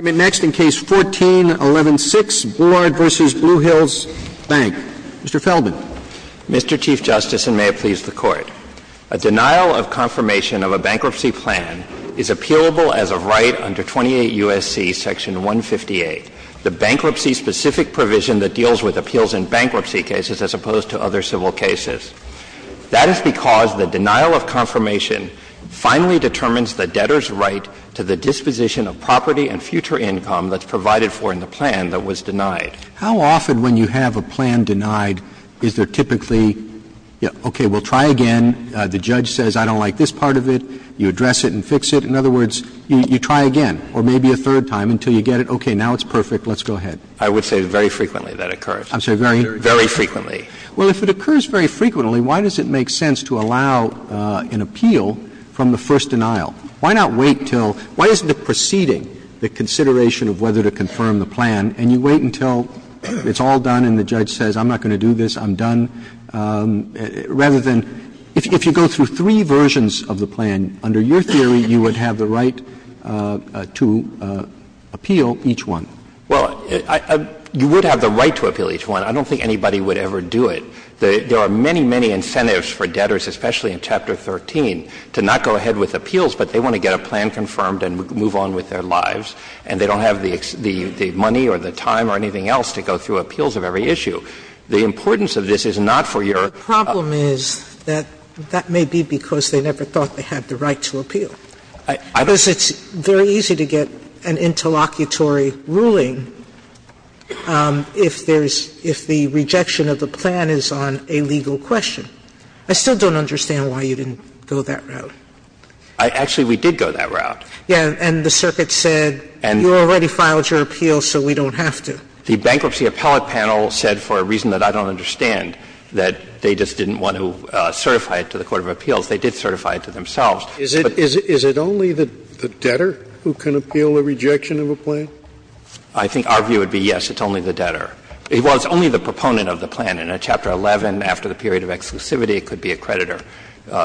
Mr. Feldman. Mr. Chief Justice, and may it please the Court, a denial of confirmation of a bankruptcy plan is appealable as a right under 28 U.S.C. Section 158, the bankruptcy-specific provision that deals with appeals in bankruptcy cases as opposed to other civil cases. That is because the denial of confirmation finally determines the debtor's right to the disposition of property under Section 158. If you have a plan with a certain amount of money and future income that's provided for in the plan that was denied, how often when you have a plan denied is there typically a question of, okay, well, try again? The judge says, I don't like this part of it. You address it and fix it. In other words, you try again or maybe a third time until you get it okay, now it's perfect. Let's go ahead. I would say very frequently that occurs. I'm sorry, very frequently. Well, if it occurs very frequently, why does it make sense to allow an appeal from the first denial? Why not wait until why isn't it preceding the consideration of whether to confirm the plan and you wait until it's all done and the judge says, I'm not going to do this, I'm done, rather than if you go through three versions of the plan, under your theory, you would have the right to appeal each one? Well, you would have the right to appeal each one. I don't think anybody would ever do it. There are many, many incentives for debtors, especially in Chapter 13, to not go ahead with appeals, but they want to get a plan confirmed and move on with their lives, and they don't have the money or the time or anything else to go through appeals of every issue. The importance of this is not for your other versions. Sotomayor, that may be because they never thought they had the right to appeal. Because it's very easy to get an interlocutory ruling if there's no reason for it to happen. But I think it's very easy to get an interlocutory ruling if the rejection of the plan is on a legal question. I still don't understand why you didn't go that route. Actually, we did go that route. Yeah. And the circuit said, you already filed your appeal, so we don't have to. The bankruptcy appellate panel said, for a reason that I don't understand, that they just didn't want to certify it to the court of appeals. They did certify it to themselves. Is it only the debtor who can appeal the rejection of a plan? I think our view would be, yes, it's only the debtor. It's only the proponent of the plan. In a Chapter 11, after the period of exclusivity, it could be a creditor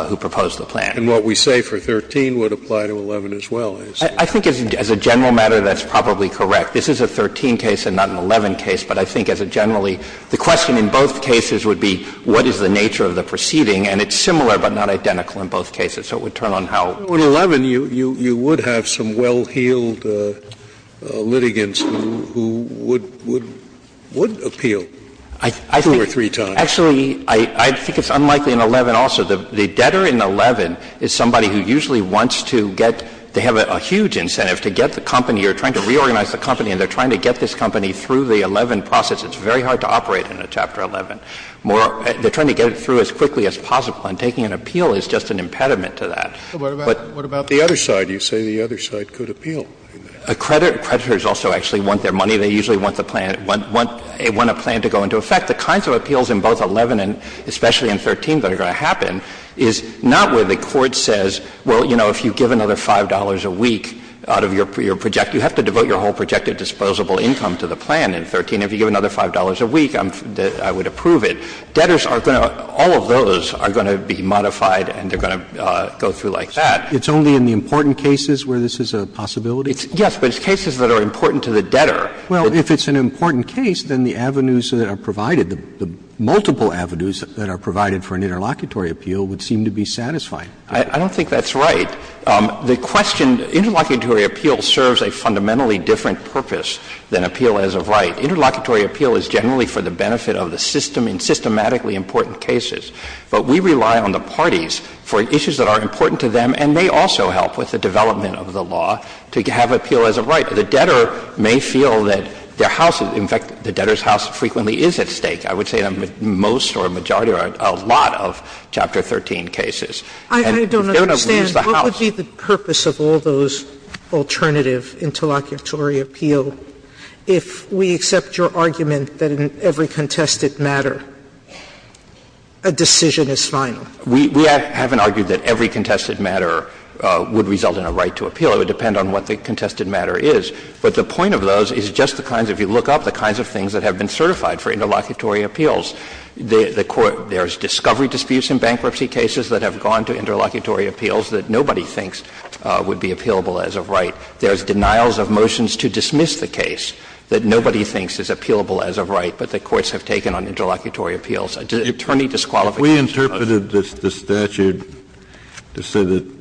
who proposed the plan. And what we say for 13 would apply to 11 as well, I assume. I think as a general matter, that's probably correct. This is a 13 case and not an 11 case, but I think as a generally, the question in both cases would be what is the nature of the proceeding. And it's similar but not identical in both cases. So it would turn on how. In 11, you would have some well-heeled litigants who would appeal two or three times. Actually, I think it's unlikely in 11 also. The debtor in 11 is somebody who usually wants to get to have a huge incentive to get the company, or trying to reorganize the company, and they're trying to get this company through the 11 process. It's very hard to operate in a Chapter 11. They're trying to get it through as quickly as possible, and taking an appeal is just an impediment to that. Scalia. But what about the other side? You say the other side could appeal. The creditors also actually want their money. They usually want the plan, want a plan to go into effect. The kinds of appeals in both 11 and especially in 13 that are going to happen is not where the Court says, well, you know, if you give another $5 a week out of your project, you have to devote your whole projected disposable income to the plan in 13. If you give another $5 a week, I would approve it. Debtors are going to, all of those are going to be modified and they're going to go through like that. It's only in the important cases where this is a possibility? Yes, but it's cases that are important to the debtor. Well, if it's an important case, then the avenues that are provided, the multiple avenues that are provided for an interlocutory appeal would seem to be satisfying. I don't think that's right. The question, interlocutory appeal serves a fundamentally different purpose than appeal as of right. Interlocutory appeal is generally for the benefit of the system in systematically important cases. But we rely on the parties for issues that are important to them, and they also help with the development of the law to have appeal as of right. The debtor may feel that their house is, in fact, the debtor's house frequently is at stake. I would say most or a majority or a lot of Chapter 13 cases. And if they don't, we use the house. Sotomayor, I don't understand what would be the purpose of all those alternative interlocutory appeal if we accept your argument that in every contested matter a decision is final. We haven't argued that every contested matter would result in a right to appeal. It would depend on what the contested matter is. But the point of those is just the kinds of you look up, the kinds of things that have been certified for interlocutory appeals. There's discovery disputes in bankruptcy cases that have gone to interlocutory appeals that nobody thinks would be appealable as of right. There's denials of motions to dismiss the case that nobody thinks is appealable as of right, but the courts have taken on interlocutory appeals. Attorney disqualification. Kennedy, we interpreted the statute to say that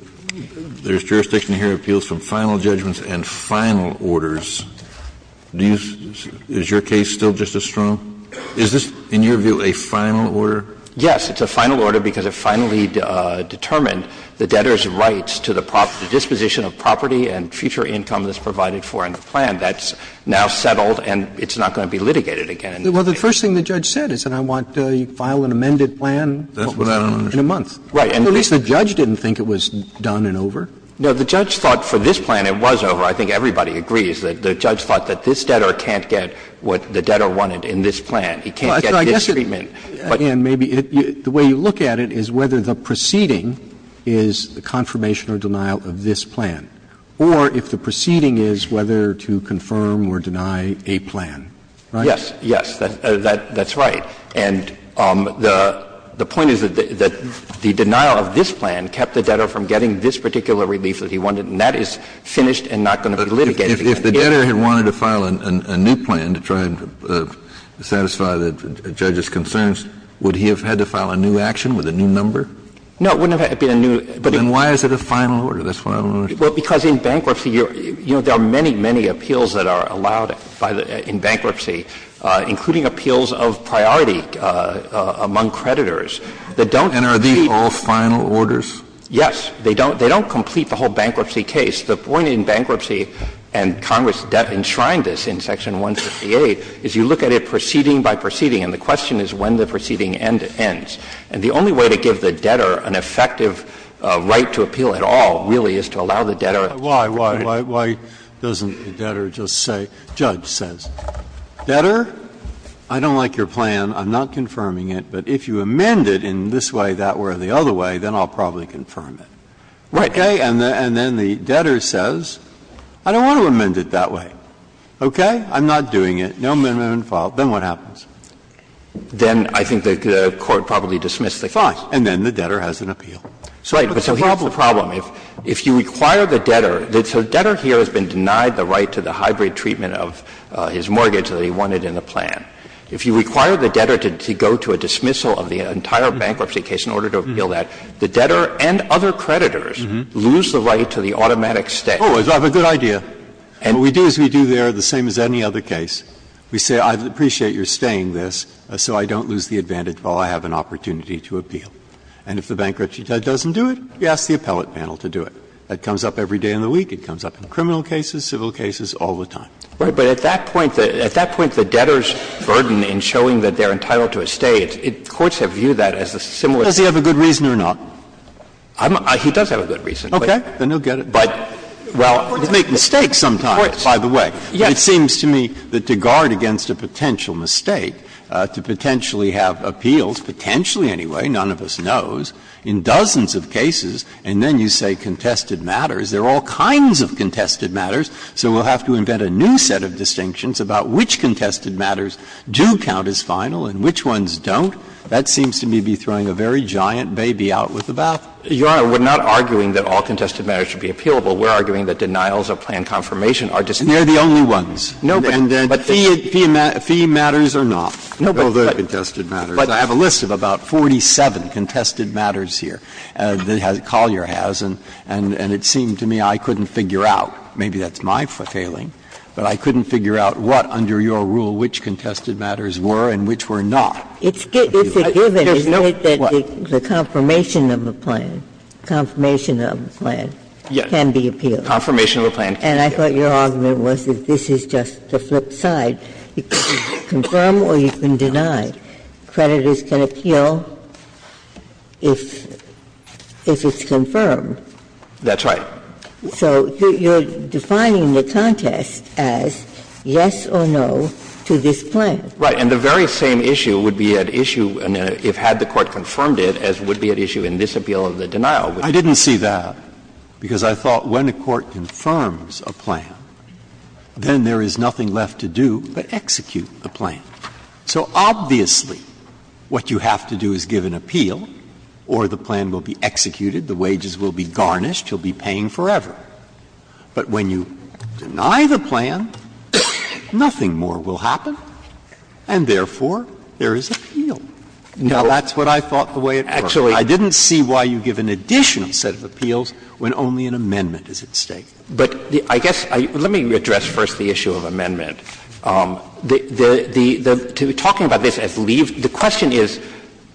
there's jurisdiction here to appeal some final judgments and final orders. Do you see – is your case still just as strong? Is this, in your view, a final order? Yes, it's a final order because it finally determined the debtor's rights to the disposition of property and future income that's provided for in the plan. That's now settled and it's not going to be litigated again. Well, the first thing the judge said is that I want you to file an amended plan in a month. That's what I understood. Right. At least the judge didn't think it was done and over. No, the judge thought for this plan it was over. I think everybody agrees that the judge thought that this debtor can't get what the debtor wanted in this plan. He can't get this treatment. And maybe the way you look at it is whether the proceeding is the confirmation or denial of this plan, or if the proceeding is whether to confirm or deny a plan. Right? Yes, yes, that's right. And the point is that the denial of this plan kept the debtor from getting this particular relief that he wanted, and that is finished and not going to be litigated again. If the debtor had wanted to file a new plan to try and satisfy the judge's concerns, would he have had to file a new action with a new number? No, it wouldn't have had to be a new. Then why is it a final order? That's what I'm wondering. Well, because in bankruptcy, you know, there are many, many appeals that are allowed in bankruptcy, including appeals of priority among creditors that don't complete And are these all final orders? Yes. They don't complete the whole bankruptcy case. The point in bankruptcy, and Congress enshrined this in Section 158, is you look at it proceeding by proceeding, and the question is when the proceeding ends. And the only way to give the debtor an effective right to appeal at all really is to allow the debtor to complete it. Why, why, why doesn't the debtor just say, judge says, debtor, I don't like your plan, I'm not confirming it, but if you amend it in this way, that way, or the other way, then I'll probably confirm it. Right. And then the debtor says, I don't want to amend it that way, okay, I'm not doing it, no amendment filed, then what happens? Then I think the Court probably dismissed the clause. Fine. And then the debtor has an appeal. Right, but so here's the problem. If you require the debtor, so the debtor here has been denied the right to the hybrid treatment of his mortgage that he wanted in the plan. And then the court has a right to appeal that. The debtor and other creditors lose the right to the automatic stay. Oh, I have a good idea. What we do is we do there the same as any other case. We say, I appreciate your staying this, so I don't lose the advantage while I have an opportunity to appeal. And if the bankruptcy doesn't do it, we ask the appellate panel to do it. That comes up every day in the week. It comes up in criminal cases, civil cases, all the time. Right. But at that point, at that point, the debtor's burden in showing that they're So I think we have to view that as a similar. Breyer. Does he have a good reason or not? He does have a good reason. Okay. Then he'll get it. But, well, you make mistakes sometimes, by the way. Yes. But it seems to me that to guard against a potential mistake, to potentially have appeals, potentially anyway, none of us knows, in dozens of cases, and then you say contested matters. There are all kinds of contested matters. So we'll have to invent a new set of distinctions about which contested matters do count as final and which ones don't. That seems to me to be throwing a very giant baby out with a bath. Your Honor, we're not arguing that all contested matters should be appealable. We're arguing that denials or planned confirmation are just And they're the only ones. No, but And then But fee matters are not. No, but All the contested matters. But I have a list of about 47 contested matters here that Collier has, and it seemed to me I couldn't figure out. Maybe that's my failing, but I couldn't figure out what, under your rule, which contested matters were and which were not. It's a given, isn't it, that the confirmation of a plan, confirmation of a plan, can be appealed? Yes. Confirmation of a plan can be appealed. And I thought your argument was that this is just the flip side. You can confirm or you can deny. Creditors can appeal if it's confirmed. That's right. So you're defining the contest as yes or no to this plan. Right. And the very same issue would be at issue if had the Court confirmed it, as would be at issue in this appeal of the denial. I didn't see that, because I thought when a court confirms a plan, then there is nothing left to do but execute the plan. So obviously what you have to do is give an appeal or the plan will be executed, the wages will be garnished. You'll be paying forever. But when you deny the plan, nothing more will happen, and therefore there is appeal. Now, that's what I thought the way it worked. Actually, I didn't see why you give an additional set of appeals when only an amendment is at stake. But I guess the issue of amendment, the question is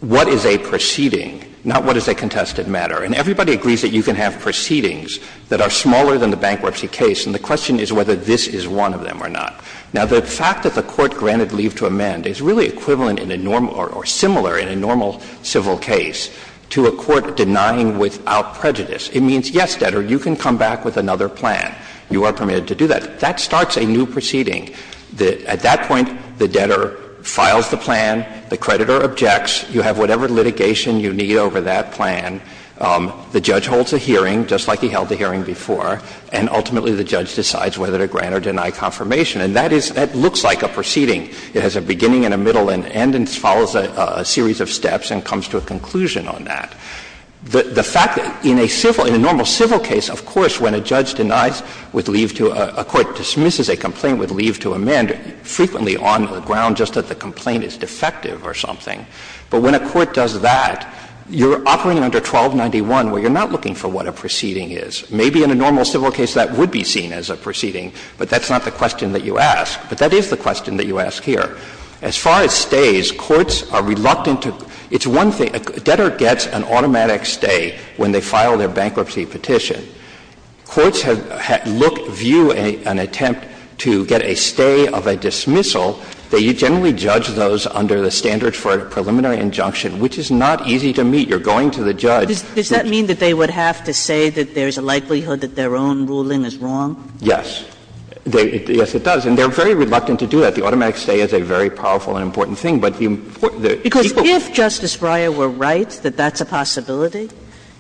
what is a proceeding, not what is a contested matter. And everybody agrees that you can have proceedings that are smaller than the bankruptcy case, and the question is whether this is one of them or not. Now, the fact that the Court granted leave to amend is really equivalent in a normal or similar in a normal civil case to a court denying without prejudice. It means, yes, debtor, you can come back with another plan. You are permitted to do that. That starts a new proceeding. At that point, the debtor files the plan, the creditor objects, you have whatever litigation you need over that plan. The judge holds a hearing, just like he held a hearing before, and ultimately the judge decides whether to grant or deny confirmation. And that is, that looks like a proceeding. It has a beginning and a middle and an end and follows a series of steps and comes to a conclusion on that. The fact that in a civil, in a normal civil case, of course, when a judge denies with leave to a court, dismisses a complaint with leave to amend frequently does that, you are operating under 1291 where you are not looking for what a proceeding is. Maybe in a normal civil case that would be seen as a proceeding, but that's not the question that you ask. But that is the question that you ask here. As far as stays, courts are reluctant to – it's one thing – a debtor gets an automatic stay when they file their bankruptcy petition. Courts have looked, view an attempt to get a stay of a dismissal. They generally judge those under the standards for a preliminary injunction, which is not easy to meet. You are going to the judge. Kagan. Does that mean that they would have to say that there is a likelihood that their own ruling is wrong? Yes. Yes, it does. And they are very reluctant to do that. The automatic stay is a very powerful and important thing. But the important thing is that people Because if Justice Breyer were right that that's a possibility,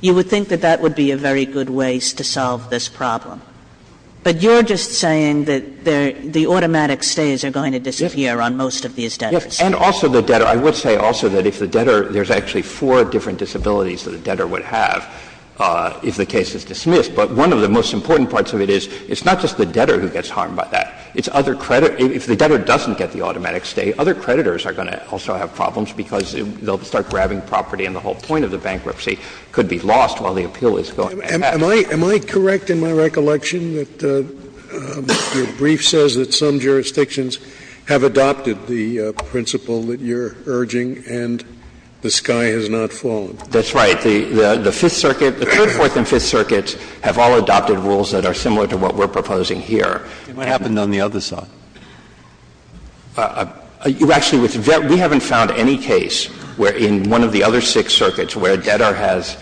you would think that that would be a very good way to solve this problem. But you are just saying that the automatic stays are going to disappear. Yes. On most of these debtors. And also the debtor – I would say also that if the debtor – there's actually four different disabilities that a debtor would have if the case is dismissed. But one of the most important parts of it is it's not just the debtor who gets harmed by that. It's other credit – if the debtor doesn't get the automatic stay, other creditors are going to also have problems because they will start grabbing property and the whole point of the bankruptcy could be lost while the appeal is going. Am I – am I correct in my recollection that your brief says that some jurisdictions have adopted the principle that you're urging and the sky has not fallen? That's right. The Fifth Circuit – the Third, Fourth, and Fifth Circuits have all adopted rules that are similar to what we're proposing here. It might happen on the other side. You actually – we haven't found any case where in one of the other six circuits where a debtor has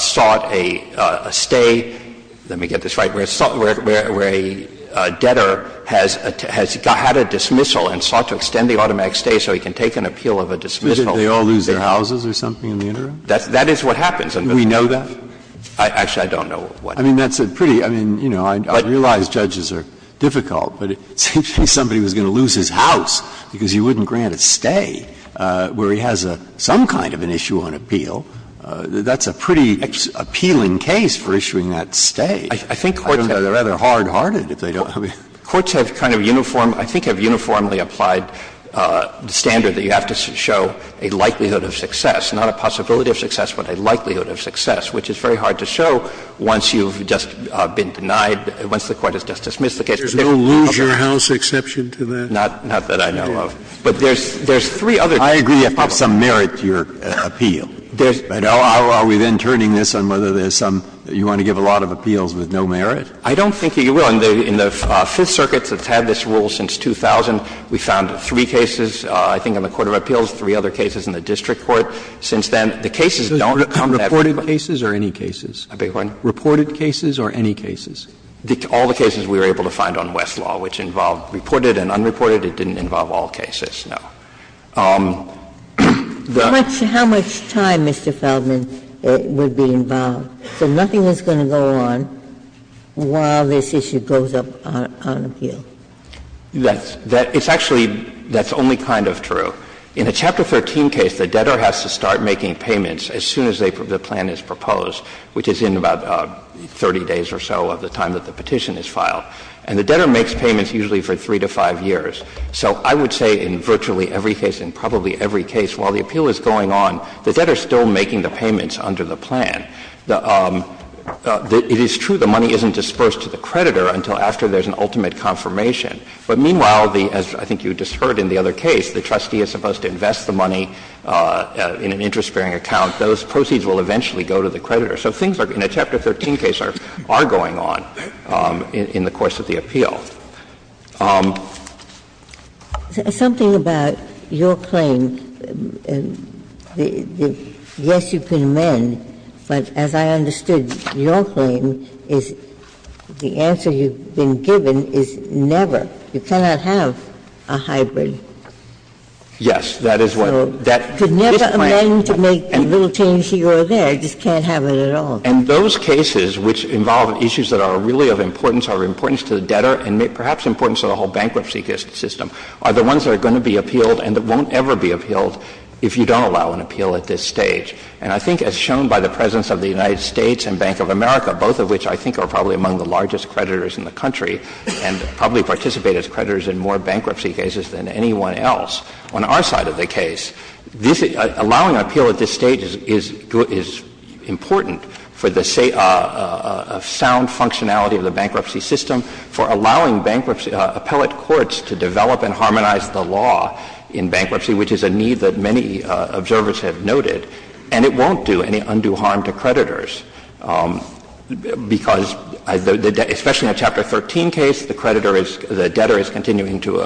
sought a stay – let me get this right – where a debtor has got a dismissal and sought to extend the automatic stay so he can take an appeal of a dismissal. They all lose their houses or something in the interim? That's – that is what happens. Do we know that? Actually, I don't know what. I mean, that's a pretty – I mean, you know, I realize judges are difficult, but it seems to me somebody was going to lose his house because he wouldn't grant a stay where he has a – some kind of an issue on appeal. That's a pretty appealing case for issuing that stay. I think courts have a rather hard-hearted if they don't have a – Courts have kind of uniform – I think have uniformly applied the standard that you have to show a likelihood of success, not a possibility of success, but a likelihood of success, which is very hard to show once you've just been denied – once the Court has just dismissed the case. There's no lose-your-house exception to that? Not that I know of. But there's three other things. I agree there's some merit to your appeal. There's – Are we then turning this on whether there's some – you want to give a lot of appeals with no merit? I don't think you will. In the Fifth Circuit that's had this rule since 2000, we found three cases, I think, on the court of appeals, three other cases in the district court. Since then, the cases don't come that way. Reported cases or any cases? I beg your pardon? Reported cases or any cases? All the cases we were able to find on Westlaw, which involved reported and unreported. It didn't involve all cases, no. The – How much time, Mr. Feldman, would be involved? So nothing is going to go on while this issue goes up on appeal. That's – it's actually – that's only kind of true. In a Chapter 13 case, the debtor has to start making payments as soon as they – the plan is proposed, which is in about 30 days or so of the time that the petition is filed. And the debtor makes payments usually for three to five years. So I would say in virtually every case and probably every case, while the appeal is going on, the debtor is still making the payments under the plan. It is true the money isn't dispersed to the creditor until after there's an ultimate confirmation. But meanwhile, as I think you just heard in the other case, the trustee is supposed to invest the money in an interest-bearing account. Those proceeds will eventually go to the creditor. So things are – in a Chapter 13 case are going on in the course of the appeal. Ginsburg. Something about your claim, the yes, you can amend, but as I understood, your claim is the answer you've been given is never. You cannot have a hybrid. Yes. That is what that – this plan – You could never amend to make the little change here or there, you just can't have it at all. And those cases which involve issues that are really of importance are of importance to the debtor and perhaps important to the whole bankruptcy system, are the ones that are going to be appealed and that won't ever be appealed if you don't allow an appeal at this stage. And I think as shown by the presence of the United States and Bank of America, both of which I think are probably among the largest creditors in the country and probably participate as creditors in more bankruptcy cases than anyone else, on our side of the case, this – allowing an appeal at this stage is important for allowing bankruptcy – appellate courts to develop and harmonize the law in bankruptcy, which is a need that many observers have noted. And it won't do any undue harm to creditors because, especially in a Chapter 13 case, the creditor is – the debtor is continuing to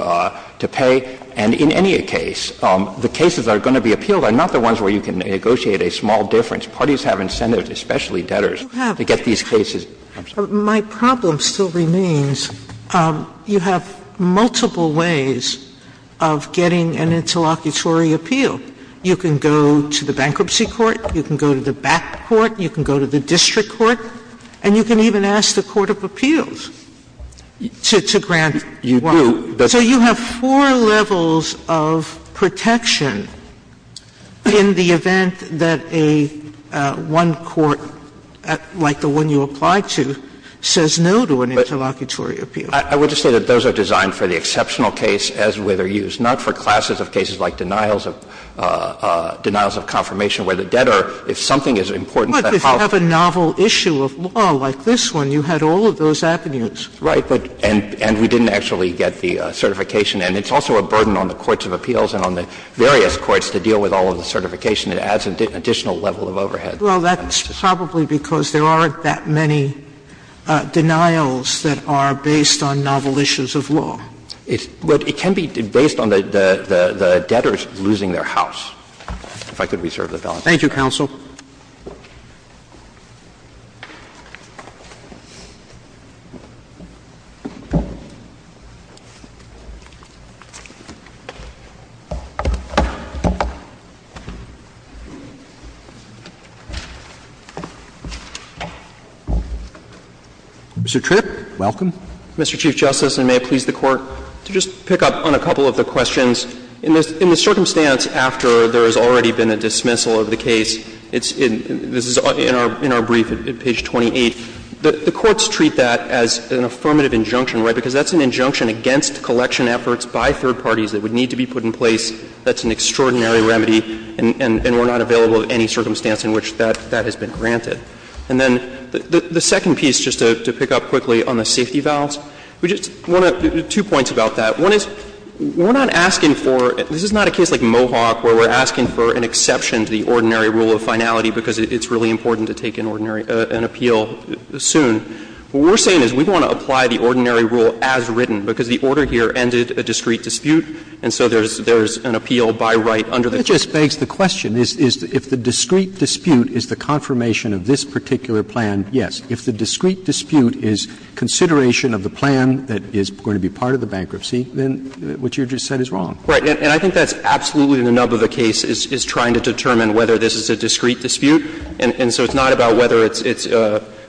pay. And in any case, the cases that are going to be appealed are not the ones where you can negotiate a small difference. Parties have incentives, especially debtors, to get these cases. Sotomayor, my problem still remains, you have multiple ways of getting an interlocutory appeal. You can go to the bankruptcy court, you can go to the back court, you can go to the district court, and you can even ask the court of appeals to grant one. You do. So you have four levels of protection in the event that a one court, like the one you applied to, says no to an interlocutory appeal. I would just say that those are designed for the exceptional case as with or use, not for classes of cases like denials of – denials of confirmation where the debtor, if something is important to the house – But if you have a novel issue of law like this one, you had all of those avenues. Right, but – and we didn't actually get the certification. And it's also a burden on the courts of appeals and on the various courts to deal with all of the certification. It adds an additional level of overhead. Well, that's probably because there aren't that many denials that are based on novel issues of law. It's – but it can be based on the debtors losing their house. If I could reserve the balance. Thank you, counsel. Mr. Tripp, welcome. Mr. Chief Justice, and may it please the Court to just pick up on a couple of the questions. In the circumstance after there has already been a dismissal of the case, it's in – this is in our brief at page 28. The courts treat that as an affirmative injunction, right, because that's an injunction against collection efforts by third parties that would need to be put in place. That's an extraordinary remedy, and we're not available at any circumstance in which that has been granted. And then the second piece, just to pick up quickly on the safety vows, we just want to – two points about that. One is, we're not asking for – this is not a case like Mohawk where we're asking for an exception to the ordinary rule of finality because it's really important to take an ordinary – an appeal soon. What we're saying is we want to apply the ordinary rule as written, because the order here ended a discrete dispute, and so there's – there's an appeal by right under the court. Roberts. That just begs the question. Is – if the discrete dispute is the confirmation of this particular plan, yes. If the discrete dispute is consideration of the plan that is going to be part of the bankruptcy, then what you just said is wrong. Right. And I think that's absolutely the nub of the case, is trying to determine whether this is a discrete dispute. And so it's not about whether it's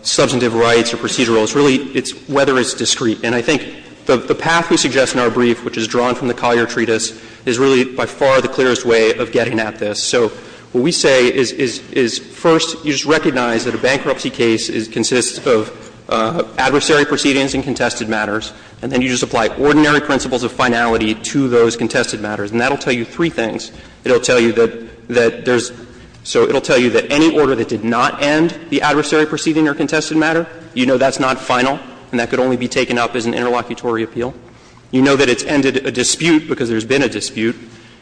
substantive rights or procedural. It's really – it's whether it's discrete. And I think the path we suggest in our brief, which is drawn from the Collier Treatise, is really by far the clearest way of getting at this. So what we say is, first, you just recognize that a bankruptcy case consists of adversary proceedings and contested matters, and then you just apply ordinary principles of finality to those contested matters. And that will tell you three things. It will tell you that there's – so it will tell you that any order that did not end the adversary proceeding or contested matter, you know that's not final and that could only be taken up as an interlocutory appeal. You know that it's ended a dispute because there's been a dispute.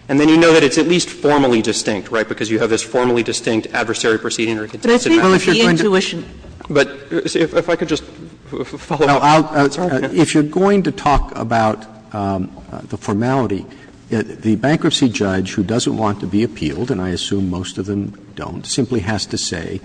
And then you know that it's at least formally distinct, right, because you have this formally distinct adversary proceeding or contested matter. But it's based on the intuition. But see, if I could just follow up. Roberts. Roberts. If you're going to talk about the formality, the bankruptcy judge who doesn't want to be appealed, and I assume most of them don't, simply has to say,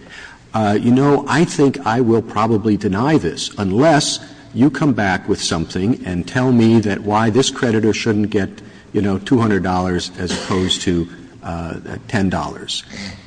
you know, I think I will probably deny this unless you come back with something and tell me that why this creditor shouldn't get, you know, $200 as opposed to $10.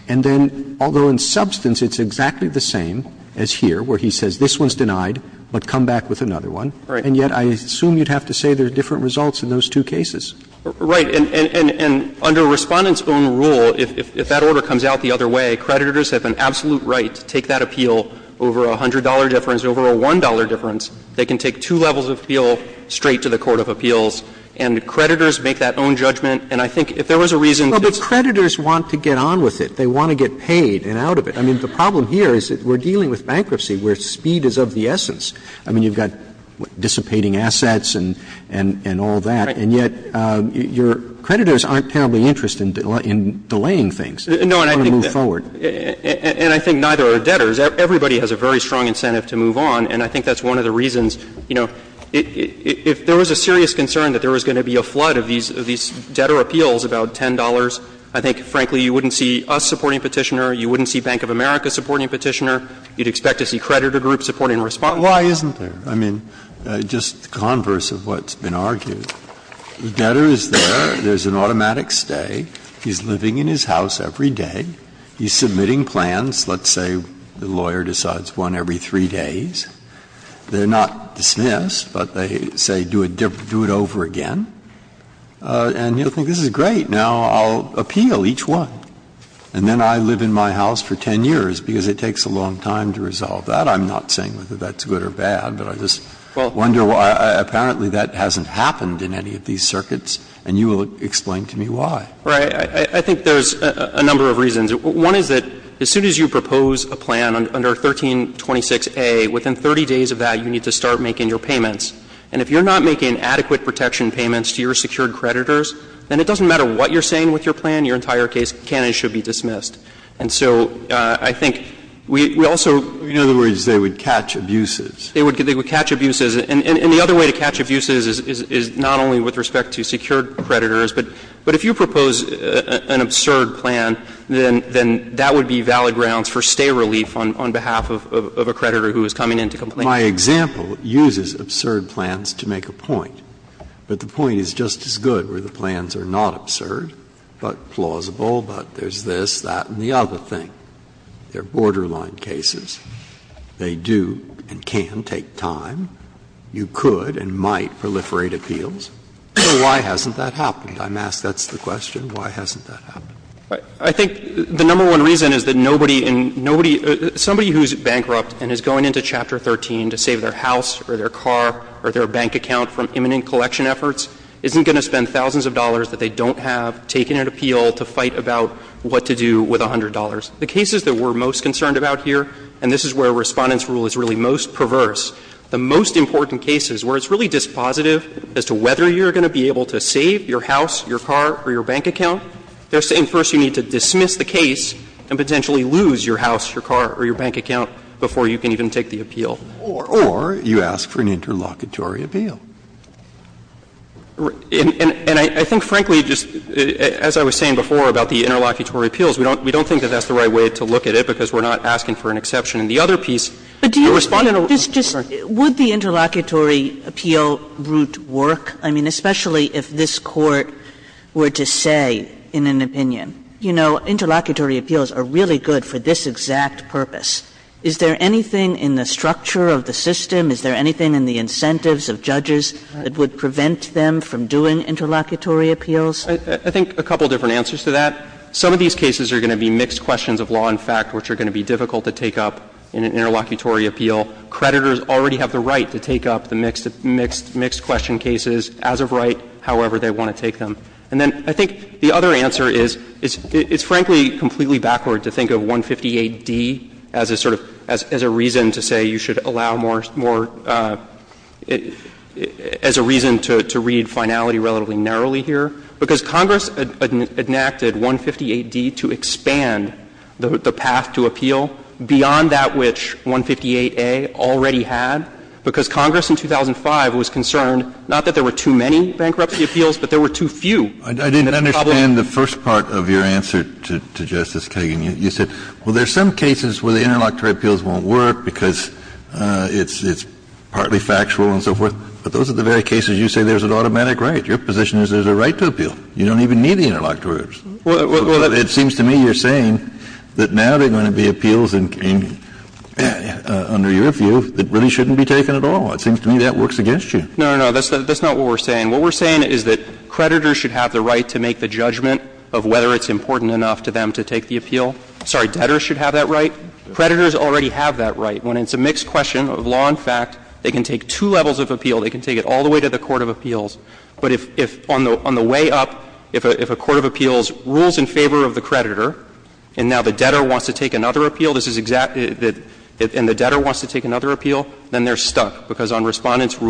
And then, although in substance, it's exactly the same as here, where he says this one's denied, but come back with another one. And yet, I assume you'd have to say there are different results in those two cases. Right. And under Respondent's own rule, if that order comes out the other way, creditors have an absolute right to take that appeal over a $100 difference, over a $1 difference. They can take two levels of appeal straight to the court of appeals, and creditors make that own judgment. And I think if there was a reason to just say that. Roberts, creditors want to get on with it. They want to get paid and out of it. I mean, the problem here is that we're dealing with bankruptcy where speed is of the essence. I mean, you've got dissipating assets and all that. And yet, your creditors aren't terribly interested in delaying things. They want to move forward. And I think neither are debtors. Everybody has a very strong incentive to move on, and I think that's one of the reasons, you know, if there was a serious concern that there was going to be a flood of these I think, frankly, you wouldn't see us supporting Petitioner. You wouldn't see Bank of America supporting Petitioner. You'd expect to see creditor groups supporting Respondent. Breyer. Why isn't there? I mean, just the converse of what's been argued. The debtor is there. There's an automatic stay. He's living in his house every day. He's submitting plans. Let's say the lawyer decides one every three days. They're not dismissed, but they say do it over again. And you'll think this is great. Now, I'll appeal each one, and then I live in my house for 10 years because it takes a long time to resolve that. I'm not saying whether that's good or bad, but I just wonder why apparently that hasn't happened in any of these circuits, and you will explain to me why. Right. I think there's a number of reasons. One is that as soon as you propose a plan under 1326a, within 30 days of that, you need to start making your payments. And if you're not making adequate protection payments to your secured creditors, then it doesn't matter what you're saying with your plan, your entire case can and should be dismissed. And so I think we also ---- Breyer, in other words, they would catch abuses. They would catch abuses. And the other way to catch abuses is not only with respect to secured creditors, but if you propose an absurd plan, then that would be valid grounds for stay relief on behalf of a creditor who is coming in to complain. My example uses absurd plans to make a point, but the point is just as good where the plans are not absurd, but plausible, but there's this, that, and the other thing. They're borderline cases. They do and can take time. You could and might proliferate appeals. So why hasn't that happened? I'm asked that's the question. Why hasn't that happened? I think the number one reason is that nobody in nobody ---- somebody who's bankrupt and is going into Chapter 13 to save their house or their car or their bank account from imminent collection efforts isn't going to spend thousands of dollars that they don't have taking an appeal to fight about what to do with $100. The cases that we're most concerned about here, and this is where Respondent's Rule is really most perverse, the most important cases where it's really dispositive as to whether you're going to be able to save your house, your car, or your bank account, they're saying first you need to dismiss the case and potentially lose your house, your car, or your bank account before you can even take the appeal. Or you ask for an interlocutory appeal. And I think, frankly, just as I was saying before about the interlocutory appeals, we don't think that that's the right way to look at it, because we're not asking for an exception in the other piece. Kagan, would the interlocutory appeal route work? I mean, especially if this Court were to say in an opinion, you know, interlocutory appeals are really good for this exact purpose. Is there anything in the structure of the system, is there anything in the incentives of judges that would prevent them from doing interlocutory appeals? I think a couple of different answers to that. Some of these cases are going to be mixed questions of law and fact, which are going to be difficult to take up in an interlocutory appeal. Creditors already have the right to take up the mixed question cases as of right, however they want to take them. And then I think the other answer is, it's frankly completely backward to think of 158 D as a sort of, as a reason to say you should allow more, more, as a reason to read finality relatively narrowly here, because Congress enacted 158 D to expand the path to appeal beyond that which 158 A already had, because Congress in 2005 was concerned, not that there were too many bankruptcy appeals, but there were too few. Kennedy, I didn't understand the first part of your answer to Justice Kagan. You said, well, there's some cases where the interlocutory appeals won't work because it's partly factual and so forth, but those are the very cases you say there's an automatic right. Your position is there's a right to appeal. You don't even need the interlocutory appeals. It seems to me you're saying that now there are going to be appeals under your view that really shouldn't be taken at all. It seems to me that works against you. No, no, that's not what we're saying. What we're saying is that creditors should have the right to make the judgment of whether it's important enough to them to take the appeal. Sorry, debtors should have that right. Creditors already have that right. When it's a mixed question of law and fact, they can take two levels of appeal. They can take it all the way to the court of appeals. But if on the way up, if a court of appeals rules in favor of the creditor and now the debtor wants to take another appeal, this is exactly the — and the debtor wants to take another appeal, then they're stuck, because on Respondent's The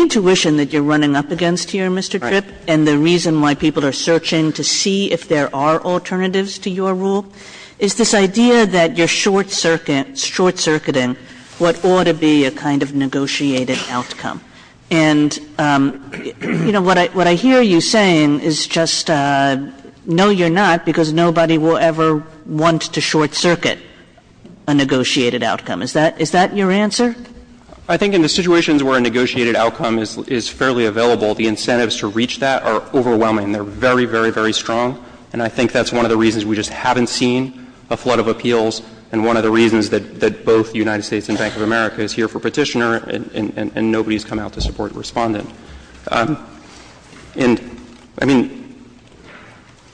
intuition that you're running up against here, Mr. Tripp, and the reason why people are searching to see if there are alternatives to your rule is this idea that you're short-circuiting what ought to be a kind of negotiated outcome. And, you know, what I hear you saying is just no, you're not, because nobody will ever want to short-circuit a negotiated outcome. Is that — is that your argument? Is that your answer? I think in the situations where a negotiated outcome is fairly available, the incentives to reach that are overwhelming. They're very, very, very strong. And I think that's one of the reasons we just haven't seen a flood of appeals, and one of the reasons that both the United States and Bank of America is here for Petitioner, and nobody's come out to support Respondent. And, I mean,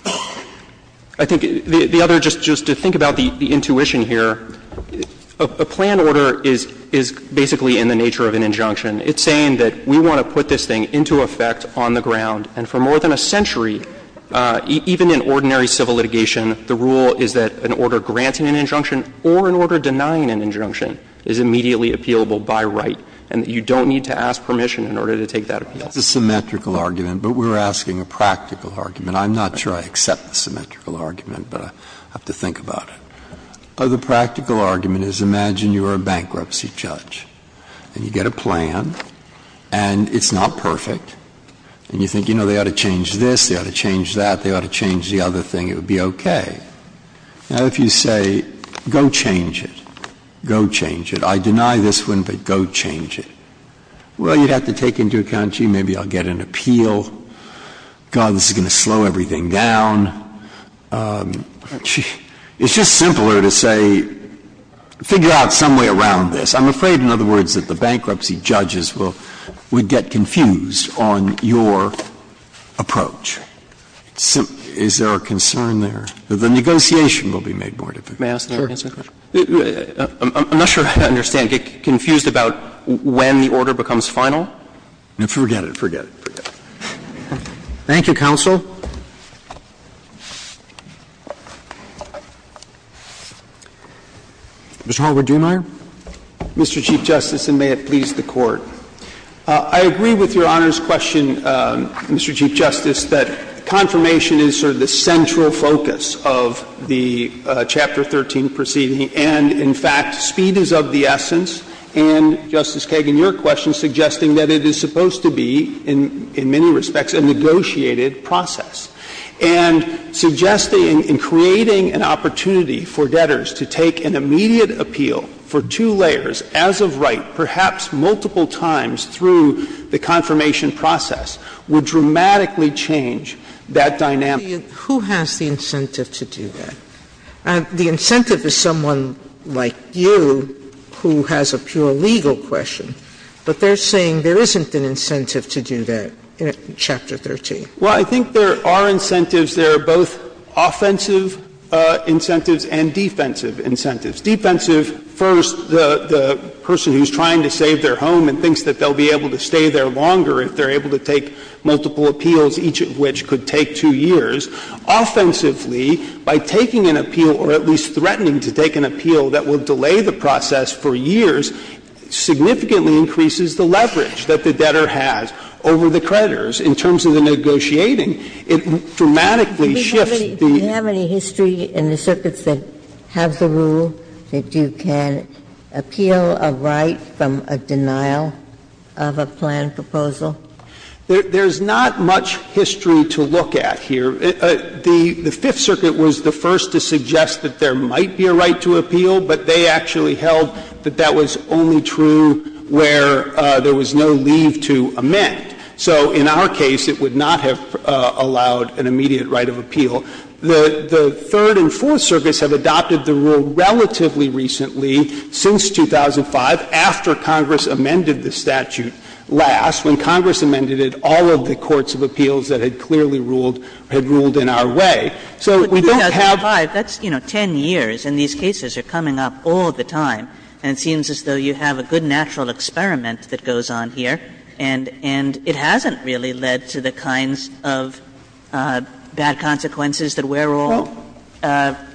I think the other — just to think about the intuition here, a plan order is basically in the nature of an injunction. It's saying that we want to put this thing into effect on the ground, and for more than a century, even in ordinary civil litigation, the rule is that an order granting an injunction or an order denying an injunction is immediately appealable by right, and that you don't need to ask permission in order to take that appeal. Breyer, that's a symmetrical argument, but we're asking a practical argument. I'm not sure I accept the symmetrical argument, but I have to think about it. Well, the practical argument is, imagine you're a bankruptcy judge, and you get a plan, and it's not perfect, and you think, you know, they ought to change this, they ought to change that, they ought to change the other thing, it would be okay. Now, if you say, go change it, go change it, I deny this one, but go change it, well, you'd have to take into account, gee, maybe I'll get an appeal, God, this is going to slow everything down. It's just simpler to say, figure out some way around this. I'm afraid, in other words, that the bankruptcy judges will get confused on your approach. Is there a concern there that the negotiation will be made more difficult? May I ask another question? I'm not sure I understand. Get confused about when the order becomes final? Forget it, forget it, forget it. Thank you, counsel. Mr. Hallward-Driemeier. Mr. Chief Justice, and may it please the Court. I agree with Your Honor's question, Mr. Chief Justice, that confirmation is sort of the central focus of the Chapter 13 proceeding, and in fact, speed is of the essence, and, Justice Kagan, your question is suggesting that it is supposed to be, in many respects, a negotiated process, and suggesting, in creating an opportunity for debtors to take an immediate appeal for two layers, as of right, perhaps multiple times through the confirmation process, would dramatically change that dynamic. Sotomayor, who has the incentive to do that? The incentive is someone like you who has a pure legal question, but they're saying there isn't an incentive to do that in Chapter 13. Well, I think there are incentives. There are both offensive incentives and defensive incentives. Defensive, first, the person who's trying to save their home and thinks that they'll be able to stay there longer if they're able to take multiple appeals, each of which could take two years. Offensively, by taking an appeal, or at least threatening to take an appeal that will delay the process for years, significantly increases the leverage that the debtor has over the creditors in terms of the negotiating. It dramatically shifts the rule. Do you have any history in the circuits that have the rule that you can appeal a right from a denial of a planned proposal? There's not much history to look at here. The Fifth Circuit was the first to suggest that there might be a right to appeal, but they actually held that that was only true where there was no leave to amend. So in our case, it would not have allowed an immediate right of appeal. The Third and Fourth Circuits have adopted the rule relatively recently, since 2005, after Congress amended the statute last, when Congress amended it, all of the courts of appeals that had clearly ruled, had ruled in our way. So we don't have to have a right to appeal. Kagan But 2005, that's, you know, 10 years, and these cases are coming up all the time. And it seems as though you have a good natural experiment that goes on here, and it hasn't really led to the kinds of bad consequences that we're all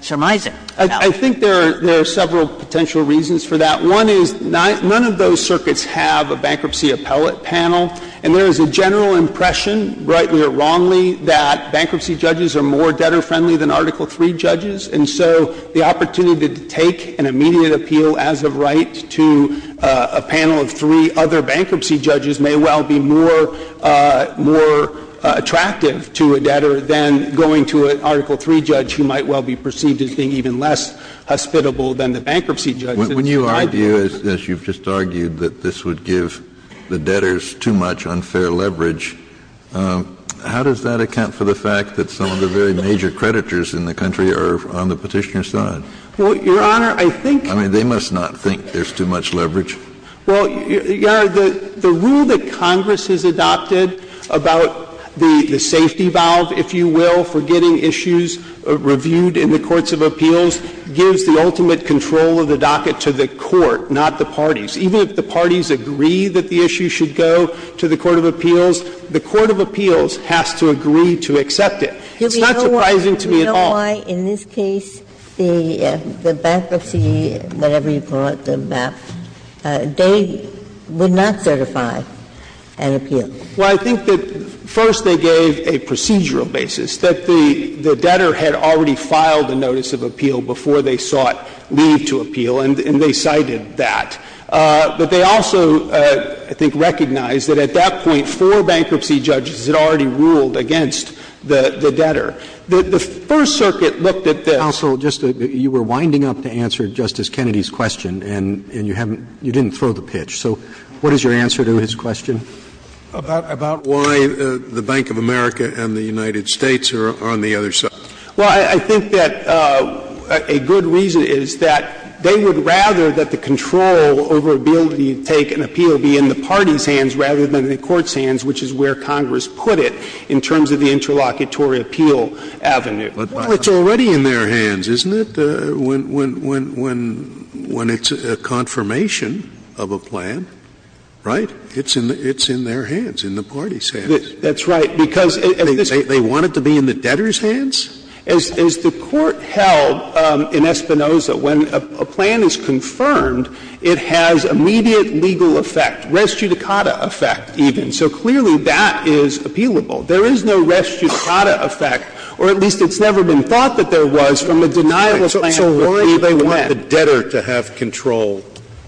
surmising. I think there are several potential reasons for that. One is none of those circuits have a bankruptcy appellate panel, and there is a general impression, rightly or wrongly, that bankruptcy judges are more debtor-friendly than Article III judges. And so the opportunity to take an immediate appeal as a right to a panel of three other bankruptcy judges may well be more attractive to a debtor than going to an Article III judge who might well be perceived as being even less hospitable than the bankruptcy judge. Kennedy Well, Your Honor, the idea, as you've just argued, that this would give the debtors too much unfair leverage, how does that account for the fact that some of the very major creditors in the country are on the Petitioner's side? Well, Your Honor, I think — I mean, they must not think there's too much leverage. Well, Your Honor, the rule that Congress has adopted about the safety valve, if you will, for getting issues reviewed in the courts of appeals gives the ultimate control of the docket to the court, not the parties. Even if the parties agree that the issue should go to the court of appeals, the court of appeals has to agree to accept it. It's not surprising to me at all. Ginsburg You know why in this case the bankruptcy, whatever you call it, the map, they would not certify an appeal? Well, I think that first they gave a procedural basis, that the debtor had already filed a notice of appeal before they sought leave to appeal, and they cited that. But they also, I think, recognized that at that point four bankruptcy judges had already ruled against the debtor. The First Circuit looked at the — Counsel, just — you were winding up to answer Justice Kennedy's question, and you haven't — you didn't throw the pitch. So what is your answer to his question? About why the Bank of America and the United States are on the other side. Well, I think that a good reason is that they would rather that the control over ability to take an appeal be in the party's hands rather than in the court's hands, which is where Congress put it in terms of the interlocutory appeal avenue. Well, it's already in their hands, isn't it, when it's a confirmation of a plan? Right? It's in their hands, in the party's hands. That's right. Because at this point — They want it to be in the debtor's hands? As the Court held in Espinoza, when a plan is confirmed, it has immediate legal effect, res judicata effect, even. So clearly that is appealable. There is no res judicata effect, or at least it's never been thought that there was, from a deniable plan. So why do they want the debtor to have control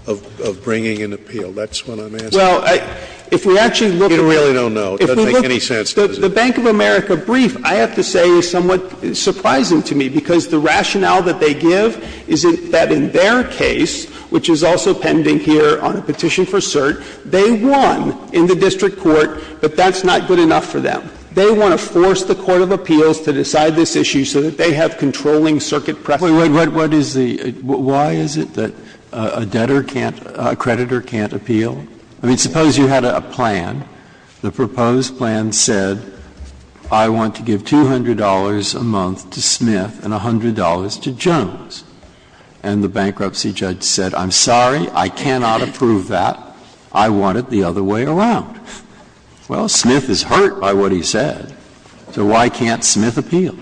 of bringing an appeal? That's what I'm asking. Well, if we actually look at — We really don't know. It doesn't make any sense. The Bank of America brief, I have to say, is somewhat surprising to me, because the rationale that they give is that in their case, which is also pending here on a petition for cert, they won in the district court, but that's not good enough for them. They want to force the court of appeals to decide this issue so that they have controlling circuit precedent. What is the — why is it that a debtor can't — a creditor can't appeal? I mean, suppose you had a plan. The proposed plan said, I want to give $200 a month to Smith and $100 to Jones. And the bankruptcy judge said, I'm sorry, I cannot approve that. I want it the other way around. Well, Smith is hurt by what he said. So why can't Smith appeal?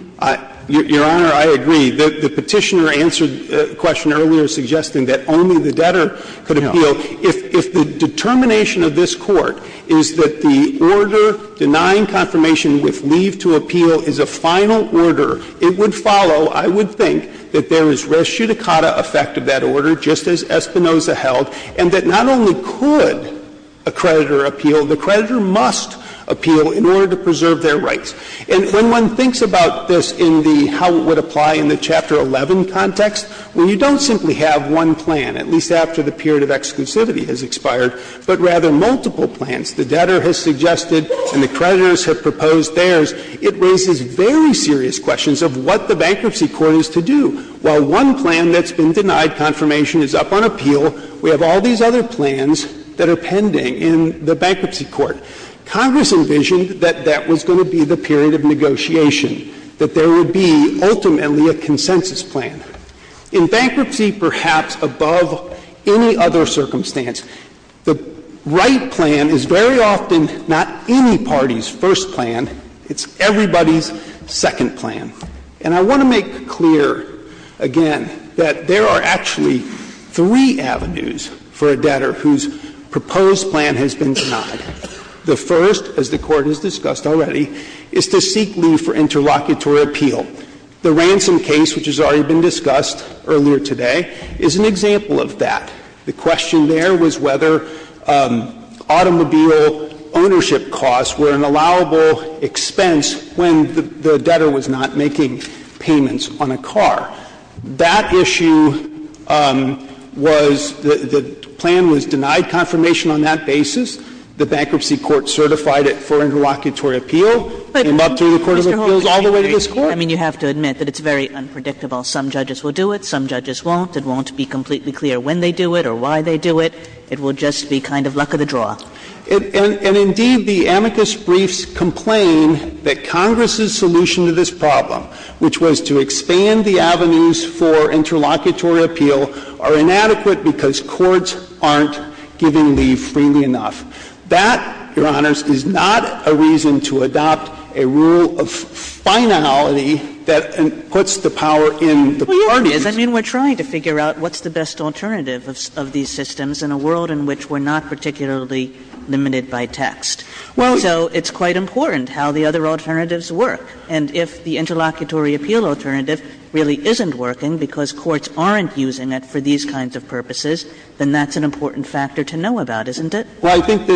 Your Honor, I agree. The Petitioner answered the question earlier, suggesting that only the debtor could appeal. If the determination of this Court is that the order denying confirmation with leave to appeal is a final order, it would follow, I would think, that there is res judicata effect of that order, just as Espinoza held, and that not only could a creditor appeal, the creditor must appeal in order to preserve their rights. And when one thinks about this in the how it would apply in the Chapter 11 context, when you don't simply have one plan, at least after the period of exclusivity has expired, but rather multiple plans, the debtor has suggested and the creditors have proposed theirs, it raises very serious questions of what the bankruptcy court is to do. While one plan that's been denied confirmation is up on appeal, we have all these other plans that are pending in the bankruptcy court. Congress envisioned that that was going to be the period of negotiation, that there would be ultimately a consensus plan. In bankruptcy, perhaps above any other circumstance, the right plan is very often not any party's first plan, it's everybody's second plan. And I want to make clear, again, that there are actually three avenues for a debtor whose proposed plan has been denied. The first, as the Court has discussed already, is to seek leave for interlocutory appeal. The ransom case, which has already been discussed earlier today, is an example of that. The question there was whether automobile ownership costs were an allowable expense when the debtor was not making payments on a car. That issue was the plan was denied confirmation on that basis. The bankruptcy court certified it for interlocutory appeal. It came up through the court of appeals all the way to this Court. Kagan. I mean, you have to admit that it's very unpredictable. Some judges will do it, some judges won't. It won't be completely clear when they do it or why they do it. It will just be kind of luck of the draw. And indeed, the amicus briefs complain that Congress's solution to this problem, which was to expand the avenues for interlocutory appeal, are inadequate because the courts aren't giving leave freely enough. That, Your Honors, is not a reason to adopt a rule of finality that puts the power in the parties. Kagan. Well, yes, it is. I mean, we're trying to figure out what's the best alternative of these systems in a world in which we're not particularly limited by text. Well, so it's quite important how the other alternatives work. And if the interlocutory appeal alternative really isn't working because courts aren't using it for these kinds of purposes, then that's an important factor to know about, isn't it? Well, I think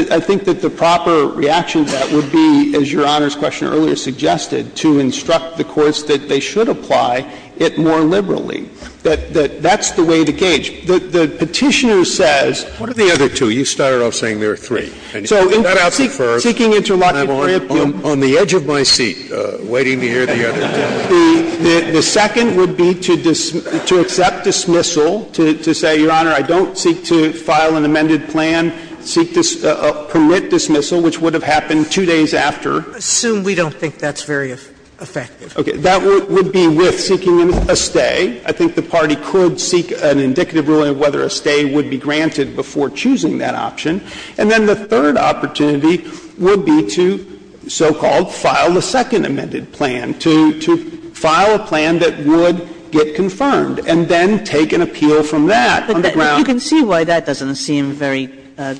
that the proper reaction to that would be, as Your Honors' question earlier suggested, to instruct the courts that they should apply it more liberally. That's the way to gauge. The Petitioner says what are the other two? You started off saying there are three. So seeking interlocutory appeal on the edge of my seat, waiting to hear the other two. The second would be to accept dismissal, to say, Your Honor, I don't seek to file an amended plan, seek to permit dismissal, which would have happened two days after. Assume we don't think that's very effective. Okay. That would be with seeking a stay. I think the party could seek an indicative ruling of whether a stay would be granted before choosing that option. And then the third opportunity would be to so-called file the second amended plan, to file a plan that would get confirmed and then take an appeal from that on the ground. But you can see why that doesn't seem very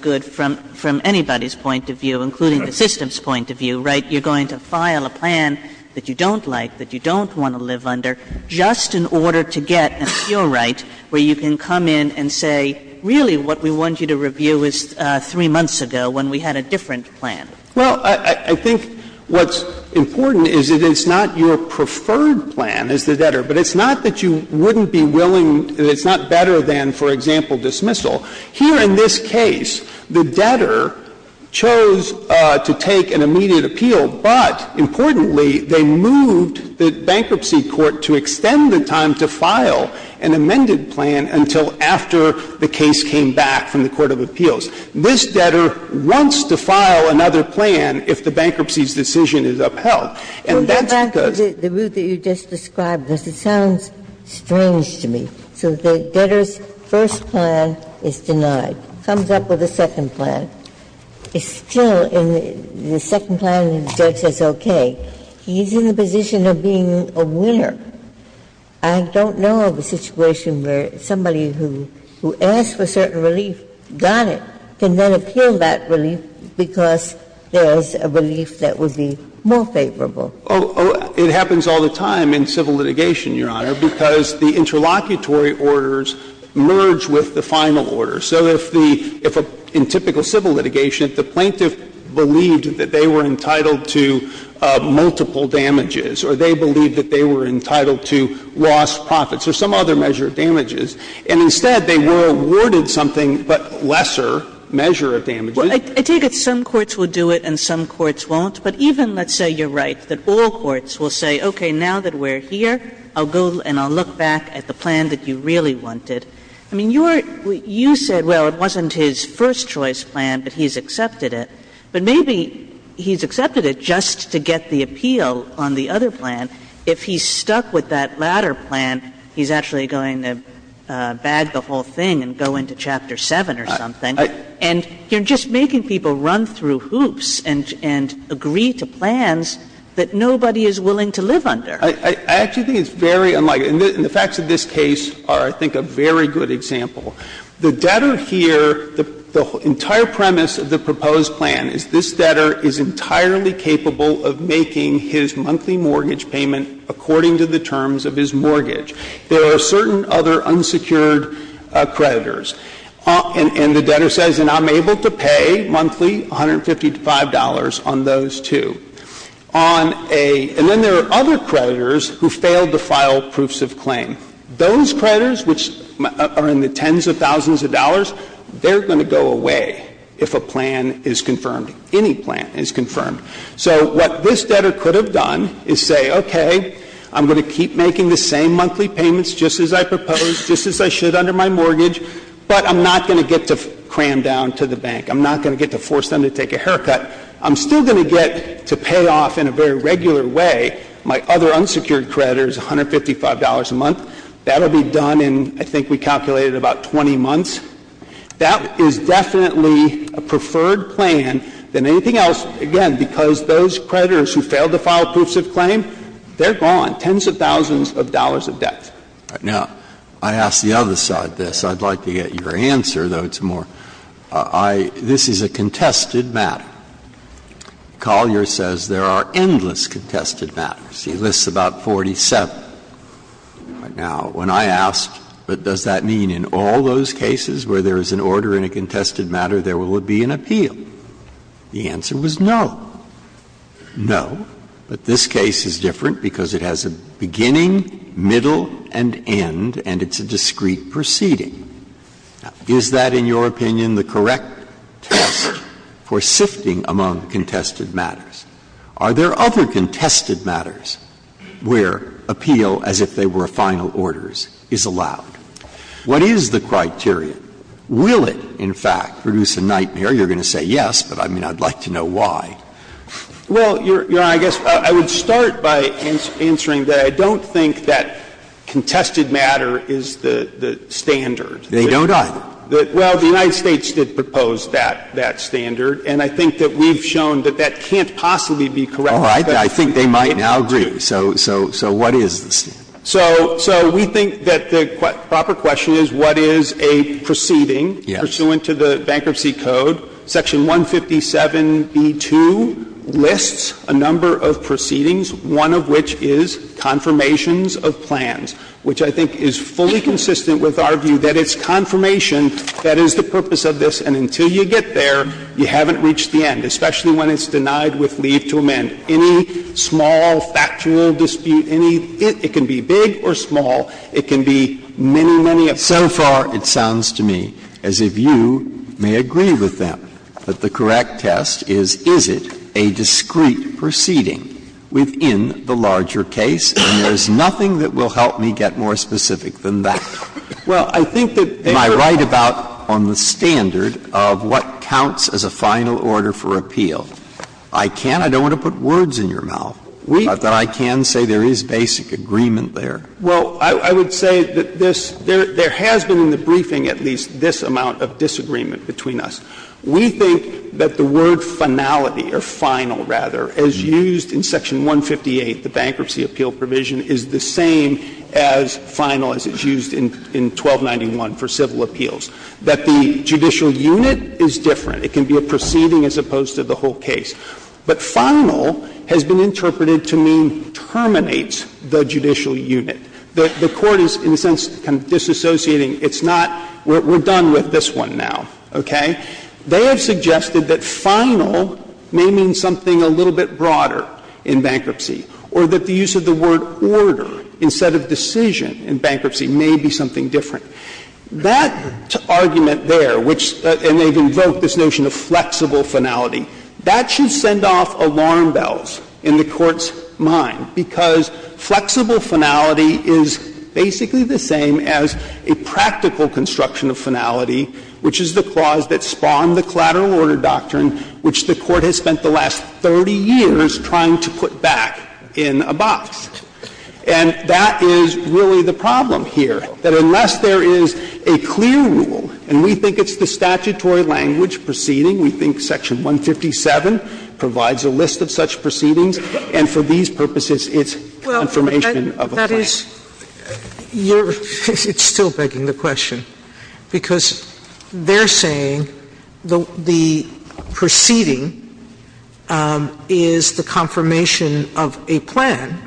good from anybody's point of view, including the system's point of view, right? You're going to file a plan that you don't like, that you don't want to live under, just in order to get an appeal right where you can come in and say, really, what we want you to review is three months ago when we had a different plan. Well, I think what's important is that it's not your preferred plan as the debtor, but it's not that you wouldn't be willing — it's not better than, for example, dismissal. Here in this case, the debtor chose to take an immediate appeal, but importantly, they moved the bankruptcy court to extend the time to file an amended plan until after the case came back from the court of appeals. This debtor wants to file another plan if the bankruptcy's decision is upheld. And that's because the rule that you just described, it sounds strange to me. So the debtor's first plan is denied, comes up with a second plan. It's still in the second plan, and the judge says, okay, he's in the position of being a winner. I don't know of a situation where somebody who asked for certain relief got it, but can then appeal that relief because there's a relief that would be more favorable. Oh, it happens all the time in civil litigation, Your Honor, because the interlocutory orders merge with the final order. So if the — in typical civil litigation, if the plaintiff believed that they were entitled to multiple damages or they believed that they were entitled to lost profits or some other measure of damages, and instead they were awarded something but lesser a measure of damages. Kagan. Kagan. I take it some courts will do it and some courts won't, but even, let's say, you're right, that all courts will say, okay, now that we're here, I'll go and I'll look back at the plan that you really wanted. I mean, you're — you said, well, it wasn't his first choice plan, but he's accepted it, but maybe he's accepted it just to get the appeal on the other plan. If he's stuck with that latter plan, he's actually going to bag the whole thing and go into Chapter 7 or something. And you're just making people run through hoops and agree to plans that nobody is willing to live under. I actually think it's very unlike — and the facts of this case are, I think, a very good example. The debtor here, the entire premise of the proposed plan is this debtor is entirely capable of making his monthly mortgage payment according to the terms of his mortgage. There are certain other unsecured creditors. And the debtor says, and I'm able to pay monthly $155 on those two. On a — and then there are other creditors who failed to file proofs of claim. Those creditors, which are in the tens of thousands of dollars, they're going to go away if a plan is confirmed, any plan is confirmed. So what this debtor could have done is say, okay, I'm going to keep making the same monthly payments just as I proposed, just as I should under my mortgage, but I'm not going to get to cram down to the bank. I'm not going to get to force them to take a haircut. I'm still going to get to pay off in a very regular way my other unsecured creditors, $155 a month. That will be done in, I think we calculated, about 20 months. That is definitely a preferred plan than anything else, again, because those creditors who failed to file proofs of claim, they're gone. They're in the tens of thousands of dollars of debt. Now, I ask the other side this. I'd like to get your answer, though it's more, I — this is a contested matter. Collier says there are endless contested matters. He lists about 47. Now, when I asked, but does that mean in all those cases where there is an order in a contested matter, there will be an appeal, the answer was no. No, but this case is different because it has a beginning, middle, and end, and it's a discrete proceeding. Is that, in your opinion, the correct test for sifting among contested matters? Are there other contested matters where appeal as if they were final orders is allowed? What is the criteria? Will it, in fact, produce a nightmare? You're going to say yes, but I mean, I'd like to know why. Well, Your Honor, I guess I would start by answering that I don't think that contested matter is the standard. They don't either. Well, the United States did propose that standard, and I think that we've shown that that can't possibly be correct. All right. I think they might now agree. So what is the standard? So we think that the proper question is what is a proceeding pursuant to the Bankruptcy Code, Section 157b2, lists a number of proceedings, one of which is confirmations of plans, which I think is fully consistent with our view that it's confirmation that is the purpose of this, and until you get there, you haven't reached the end, especially when it's denied with leave to amend. Any small factual dispute, any bit, it can be big or small, it can be many, many of them, but the correct test is, is it a discreet proceeding within the larger case? And there's nothing that will help me get more specific than that. Well, I think that they were right about on the standard of what counts as a final order for appeal. I can't – I don't want to put words in your mouth, but I can say there is basic agreement there. Well, I would say that this – there has been in the briefing at least this amount of disagreement between us. We think that the word finality, or final, rather, as used in Section 158, the Bankruptcy Appeal Provision, is the same as final as it's used in 1291 for civil appeals, that the judicial unit is different. It can be a proceeding as opposed to the whole case. But final has been interpreted to mean terminates the judicial unit. The Court is, in a sense, disassociating. It's not, we're done with this one now, okay? They have suggested that final may mean something a little bit broader in bankruptcy, or that the use of the word order instead of decision in bankruptcy may be something different. That argument there, which – and they've invoked this notion of flexible finality – that should send off alarm bells in the Court's mind, because flexible finality is basically the same as a practical construction of finality, which is the clause that spawned the collateral order doctrine, which the Court has spent the last 30 years trying to put back in a box. And that is really the problem here, that unless there is a clear rule, and we think it's the statutory language proceeding, we think Section 157 provides a list of such proceedings, and for these purposes it's confirmation of a claim. Sotomayor, I guess you're – it's still begging the question, because they're saying the proceeding is the confirmation of a plan,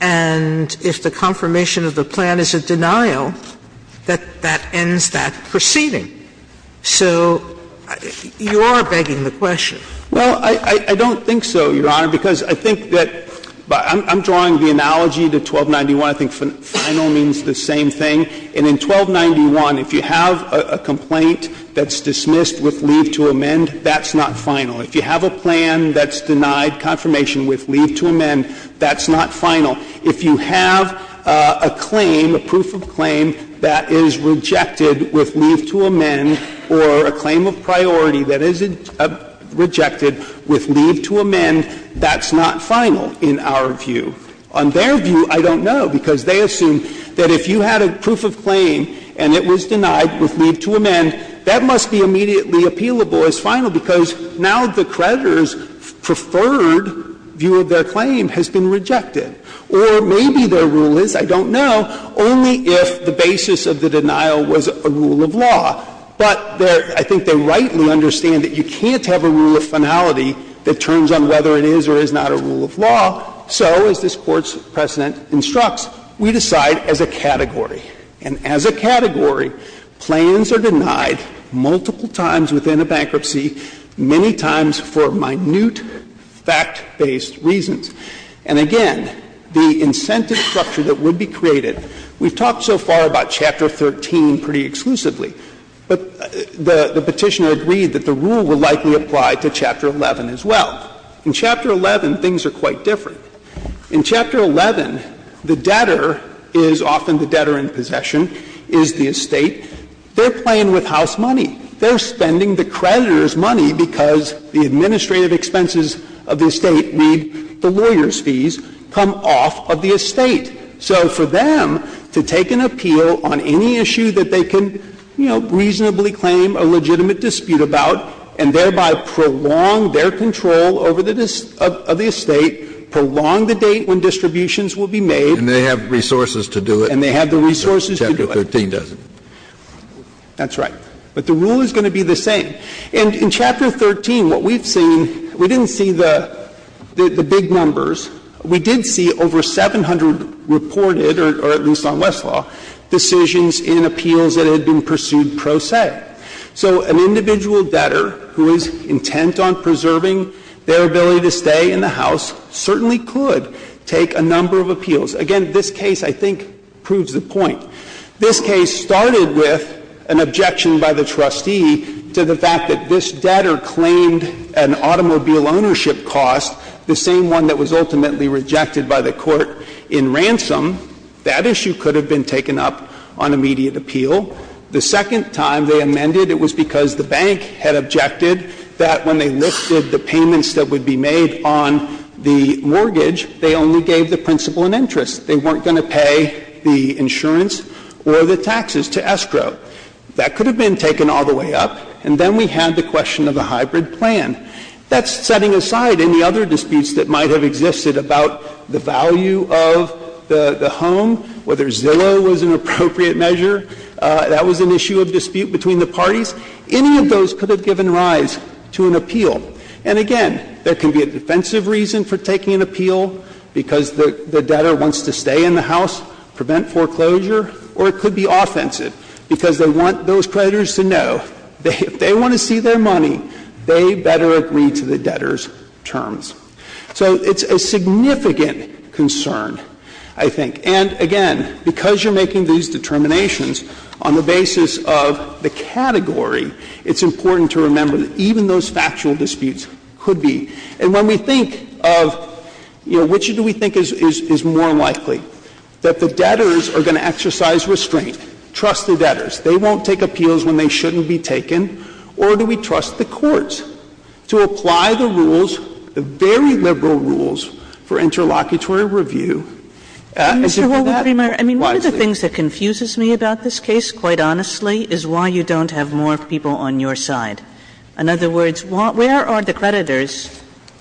and if the confirmation of the plan is a denial, that that ends that proceeding. So you are begging the question. Well, I don't think so, Your Honor, because I think that – I'm drawing the analogy to 1291, I think final means the same thing. And in 1291, if you have a complaint that's dismissed with leave to amend, that's not final. If you have a plan that's denied confirmation with leave to amend, that's not final. If you have a claim, a proof of claim, that is rejected with leave to amend, or a claim of priority that is rejected with leave to amend, that's not final in our view. On their view, I don't know, because they assume that if you had a proof of claim and it was denied with leave to amend, that must be immediately appealable as final, because now the creditor's preferred view of their claim has been rejected. Or maybe their rule is, I don't know, only if the basis of the denial was a rule of law. But I think they rightly understand that you can't have a rule of finality Well, so, as this Court's precedent instructs, we decide as a category. And as a category, plans are denied multiple times within a bankruptcy, many times for minute, fact-based reasons. And again, the incentive structure that would be created, we've talked so far about Chapter 13 pretty exclusively, but the Petitioner agreed that the rule would likely apply to Chapter 11 as well. Now, in Chapter 11, things are quite different. In Chapter 11, the debtor is often the debtor in possession, is the estate. They're playing with house money. They're spending the creditor's money because the administrative expenses of the estate need the lawyer's fees come off of the estate. So for them to take an appeal on any issue that they can, you know, reasonably claim a legitimate dispute about, and thereby prolong their control over the estate, prolong the date when distributions will be made. And they have resources to do it. And they have the resources to do it. Chapter 13 doesn't. That's right. But the rule is going to be the same. And in Chapter 13, what we've seen, we didn't see the big numbers. We did see over 700 reported, or at least on Westlaw, decisions in appeals that were not subject to the debtors' control over the estate. So an individual debtor who is intent on preserving their ability to stay in the house certainly could take a number of appeals. Again, this case, I think, proves the point. This case started with an objection by the trustee to the fact that this debtor claimed an automobile ownership cost, the same one that was ultimately rejected by the court in ransom. That issue could have been taken up on immediate appeal. The second time they amended, it was because the bank had objected that when they lifted the payments that would be made on the mortgage, they only gave the principal an interest. They weren't going to pay the insurance or the taxes to Estro. That could have been taken all the way up. And then we had the question of a hybrid plan. That's setting aside any other disputes that might have existed about the value of the home, whether Zillow was an appropriate measure. That was an issue of dispute between the parties. Any of those could have given rise to an appeal. And again, there can be a defensive reason for taking an appeal, because the debtor wants to stay in the house, prevent foreclosure, or it could be offensive, because they want those creditors to know that if they want to see their money, they better agree to the debtor's terms. So it's a significant concern, I think. And again, because you're making these determinations on the basis of the category, it's important to remember that even those factual disputes could be. And when we think of, you know, which do we think is more likely, that the debtors are going to exercise restraint, trust the debtors. They won't take appeals when they shouldn't be taken. Or do we trust the courts to apply the rules, very liberal rules for interlocutory review? And to do that wisely. Kagan. Kagan. Kagan. I mean, one of the things that confuses me about this case, quite honestly, is why you don't have more people on your side. In other words, where are the creditors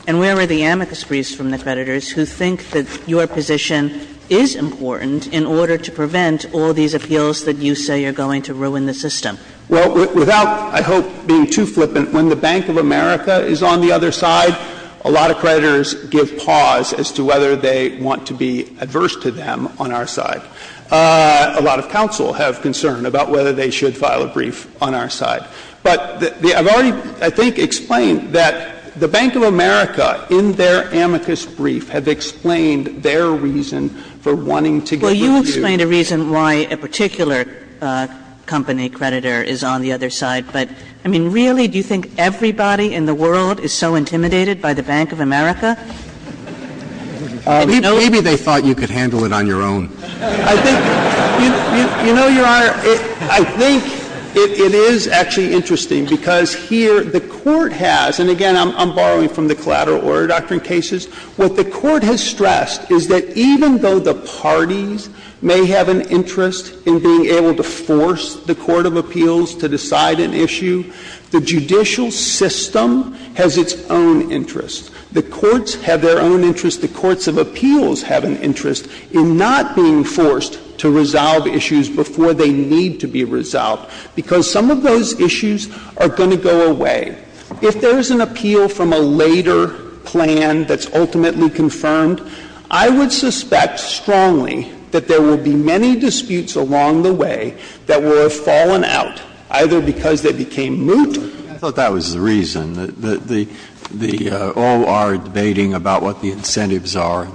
and where were the amicus priest from the creditors who think that your position is important in order to prevent all these appeals that you say are going to ruin the system? Well, without, I hope, being too flippant, when the Bank of America is on the other side, a lot of creditors give pause as to whether they want to be adverse to them on our side. A lot of counsel have concern about whether they should file a brief on our side. But I've already, I think, explained that the Bank of America, in their amicus brief, have explained their reason for wanting to give reviews. Well, you explained a reason why a particular company creditor is on the other side. But, I mean, really, do you think everybody in the world is so intimidated by the Bank of America? Maybe they thought you could handle it on your own. I think, you know, Your Honor, I think it is actually interesting, because here the Court has, and again, I'm borrowing from the Collateral Order Doctrine and other cases, what the Court has stressed is that even though the parties may have an interest in being able to force the court of appeals to decide an issue, the judicial system has its own interest. The courts have their own interest. The courts of appeals have an interest in not being forced to resolve issues before they need to be resolved, because some of those issues are going to go away. If there is an appeal from a later plan that's ultimately confirmed, I would suspect strongly that there will be many disputes along the way that were fallen out, either because they became moot. Breyer, I thought that was the reason, that the O.R. debating about what the incentives are,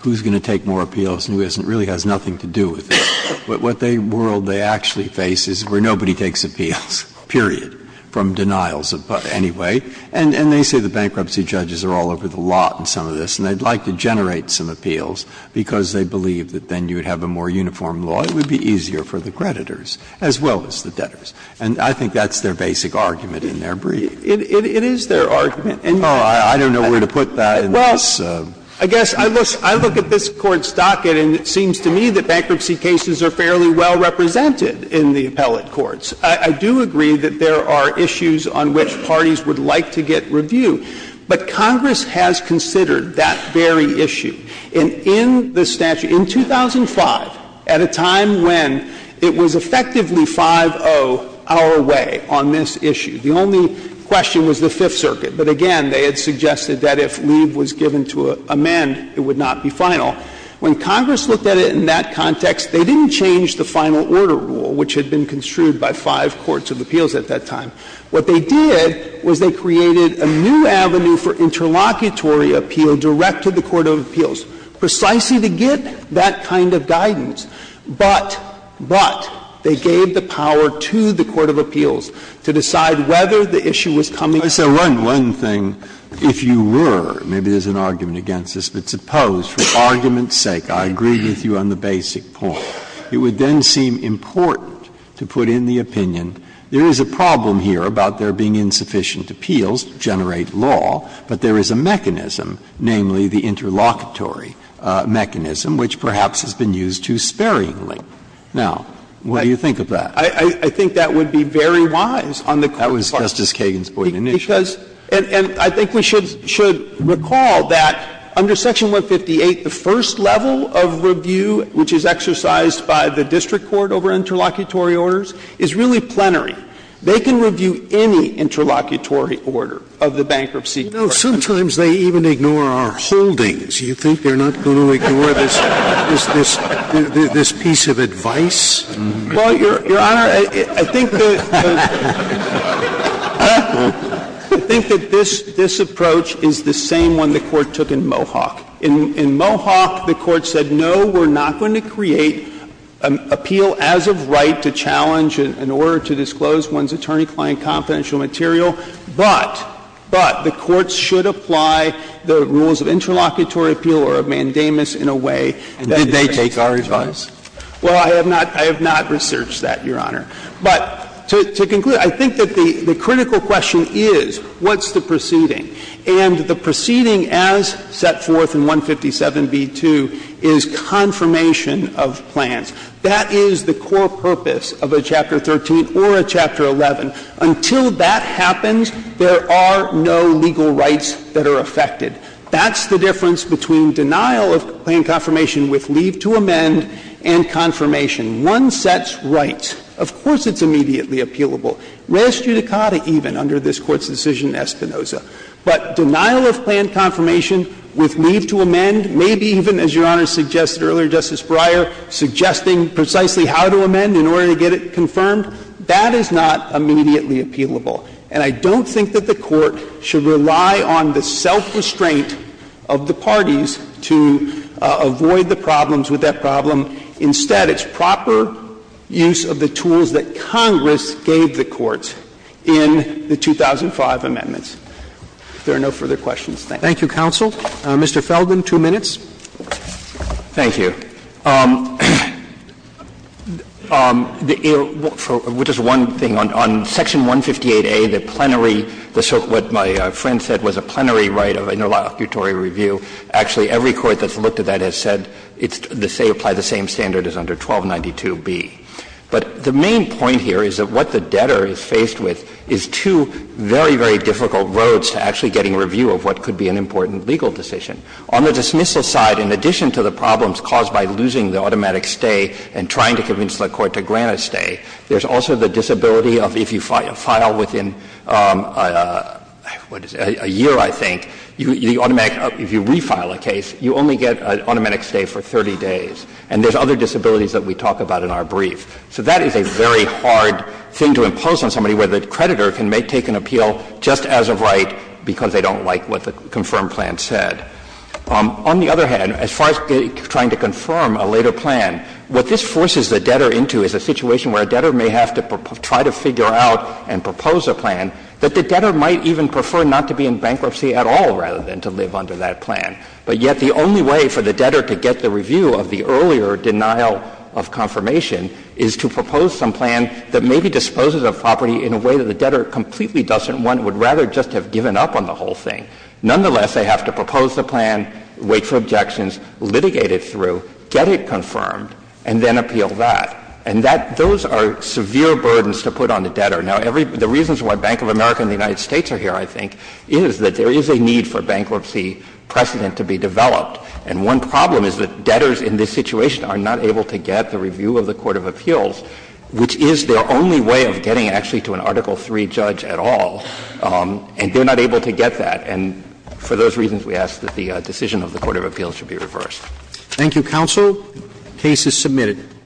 who's going to take more appeals and who isn't, really has nothing to do with it. What they world they actually face is where nobody takes appeals, period, from denials anyway, and they say the bankruptcy judges are all over the lot in some of this, and they'd like to generate some appeals because they believe that then you would have a more uniform law, it would be easier for the creditors as well as the debtors. And I think that's their basic argument in their brief. It is their argument. And I don't know where to put that in this. Well, I guess I look at this Court's docket and it seems to me that bankruptcy cases are fairly well represented in the appellate courts. I do agree that there are issues on which parties would like to get review, but Congress has considered that very issue. And in the statute, in 2005, at a time when it was effectively 5-0 our way on this issue, the only question was the Fifth Circuit, but again, they had suggested that if leave was given to amend, it would not be final. When Congress looked at it in that context, they didn't change the final order rule, which had been construed by five courts of appeals at that time. What they did was they created a new avenue for interlocutory appeal direct to the court of appeals, precisely to get that kind of guidance. But, but, they gave the power to the court of appeals to decide whether the issue was coming from the Court of Appeals. Breyer, if you were, maybe there's an argument against this, but suppose, for argument's sake, I agree with you on the basic point. It would then seem important to put in the opinion, there is a problem here about there being insufficient appeals to generate law, but there is a mechanism, namely the interlocutory mechanism, which perhaps has been used too sparingly. Now, what do you think of that? I think that would be very wise on the court's part. That was Justice Kagan's point in the initial. Because, and I think we should recall that under Section 158, the first level of review, which is exercised by the district court over interlocutory orders, is really plenary. They can review any interlocutory order of the bankruptcy process. You know, sometimes they even ignore our holdings. You think they're not going to ignore this, this, this piece of advice? Well, Your Honor, I think that this approach is the same one the Court took in Mohawk. In Mohawk, the Court said, no, we're not going to create an appeal as of right to challenge an order to disclose one's attorney-client confidential material, but, but the courts should apply the rules of interlocutory appeal or of mandamus in a way that is transparent to the district court. And did they take our advice? Well, I have not researched that, Your Honor. But to conclude, I think that the critical question is what's the proceeding? And the proceeding as set forth in 157b-2 is confirmation of plans. That is the core purpose of a Chapter 13 or a Chapter 11. Until that happens, there are no legal rights that are affected. That's the difference between denial of claim confirmation with leave to amend and confirmation. One sets rights. Of course it's immediately appealable. Res judicata even under this Court's decision in Espinoza. But denial of plan confirmation with leave to amend, maybe even, as Your Honor suggested earlier, Justice Breyer, suggesting precisely how to amend in order to get it confirmed, that is not immediately appealable. And I don't think that the Court should rely on the self-restraint of the parties to avoid the problems with that problem. Instead, it's proper use of the tools that Congress gave the courts in the 2005 amendments. If there are no further questions, thank you. Roberts, Thank you, counsel. Mr. Feldman, two minutes. Feldman, Thank you. Just one thing, on Section 158a, the plenary, what my friend said was a plenary right of interlocutory review, actually every court that's looked at that has said that it's the same, apply the same standard as under 1292b. But the main point here is that what the debtor is faced with is two very, very difficult roads to actually getting a review of what could be an important legal decision. On the dismissal side, in addition to the problems caused by losing the automatic stay and trying to convince the Court to grant a stay, there's also the disability of if you file within a year, I think, the automatic, if you refile a case, you only get an automatic stay for 30 days. And there's other disabilities that we talk about in our brief. So that is a very hard thing to impose on somebody where the creditor can take an appeal just as of right because they don't like what the confirmed plan said. On the other hand, as far as trying to confirm a later plan, what this forces the debtor into is a situation where a debtor may have to try to figure out and propose a plan that the debtor might even prefer not to be in bankruptcy at all rather than to live under that plan. But yet the only way for the debtor to get the review of the earlier denial of confirmation is to propose some plan that maybe disposes of property in a way that the debtor completely doesn't want, would rather just have given up on the whole thing. Nonetheless, they have to propose the plan, wait for objections, litigate it through, get it confirmed, and then appeal that. And that — those are severe burdens to put on the debtor. Now, every — the reasons why Bank of America and the United States are here, I think, is that there is a need for bankruptcy precedent to be developed. And one problem is that debtors in this situation are not able to get the review of the court of appeals, which is their only way of getting actually to an Article III judge at all. And they're not able to get that. And for those reasons, we ask that the decision of the court of appeals should be reversed. Thank you, counsel. The case is submitted.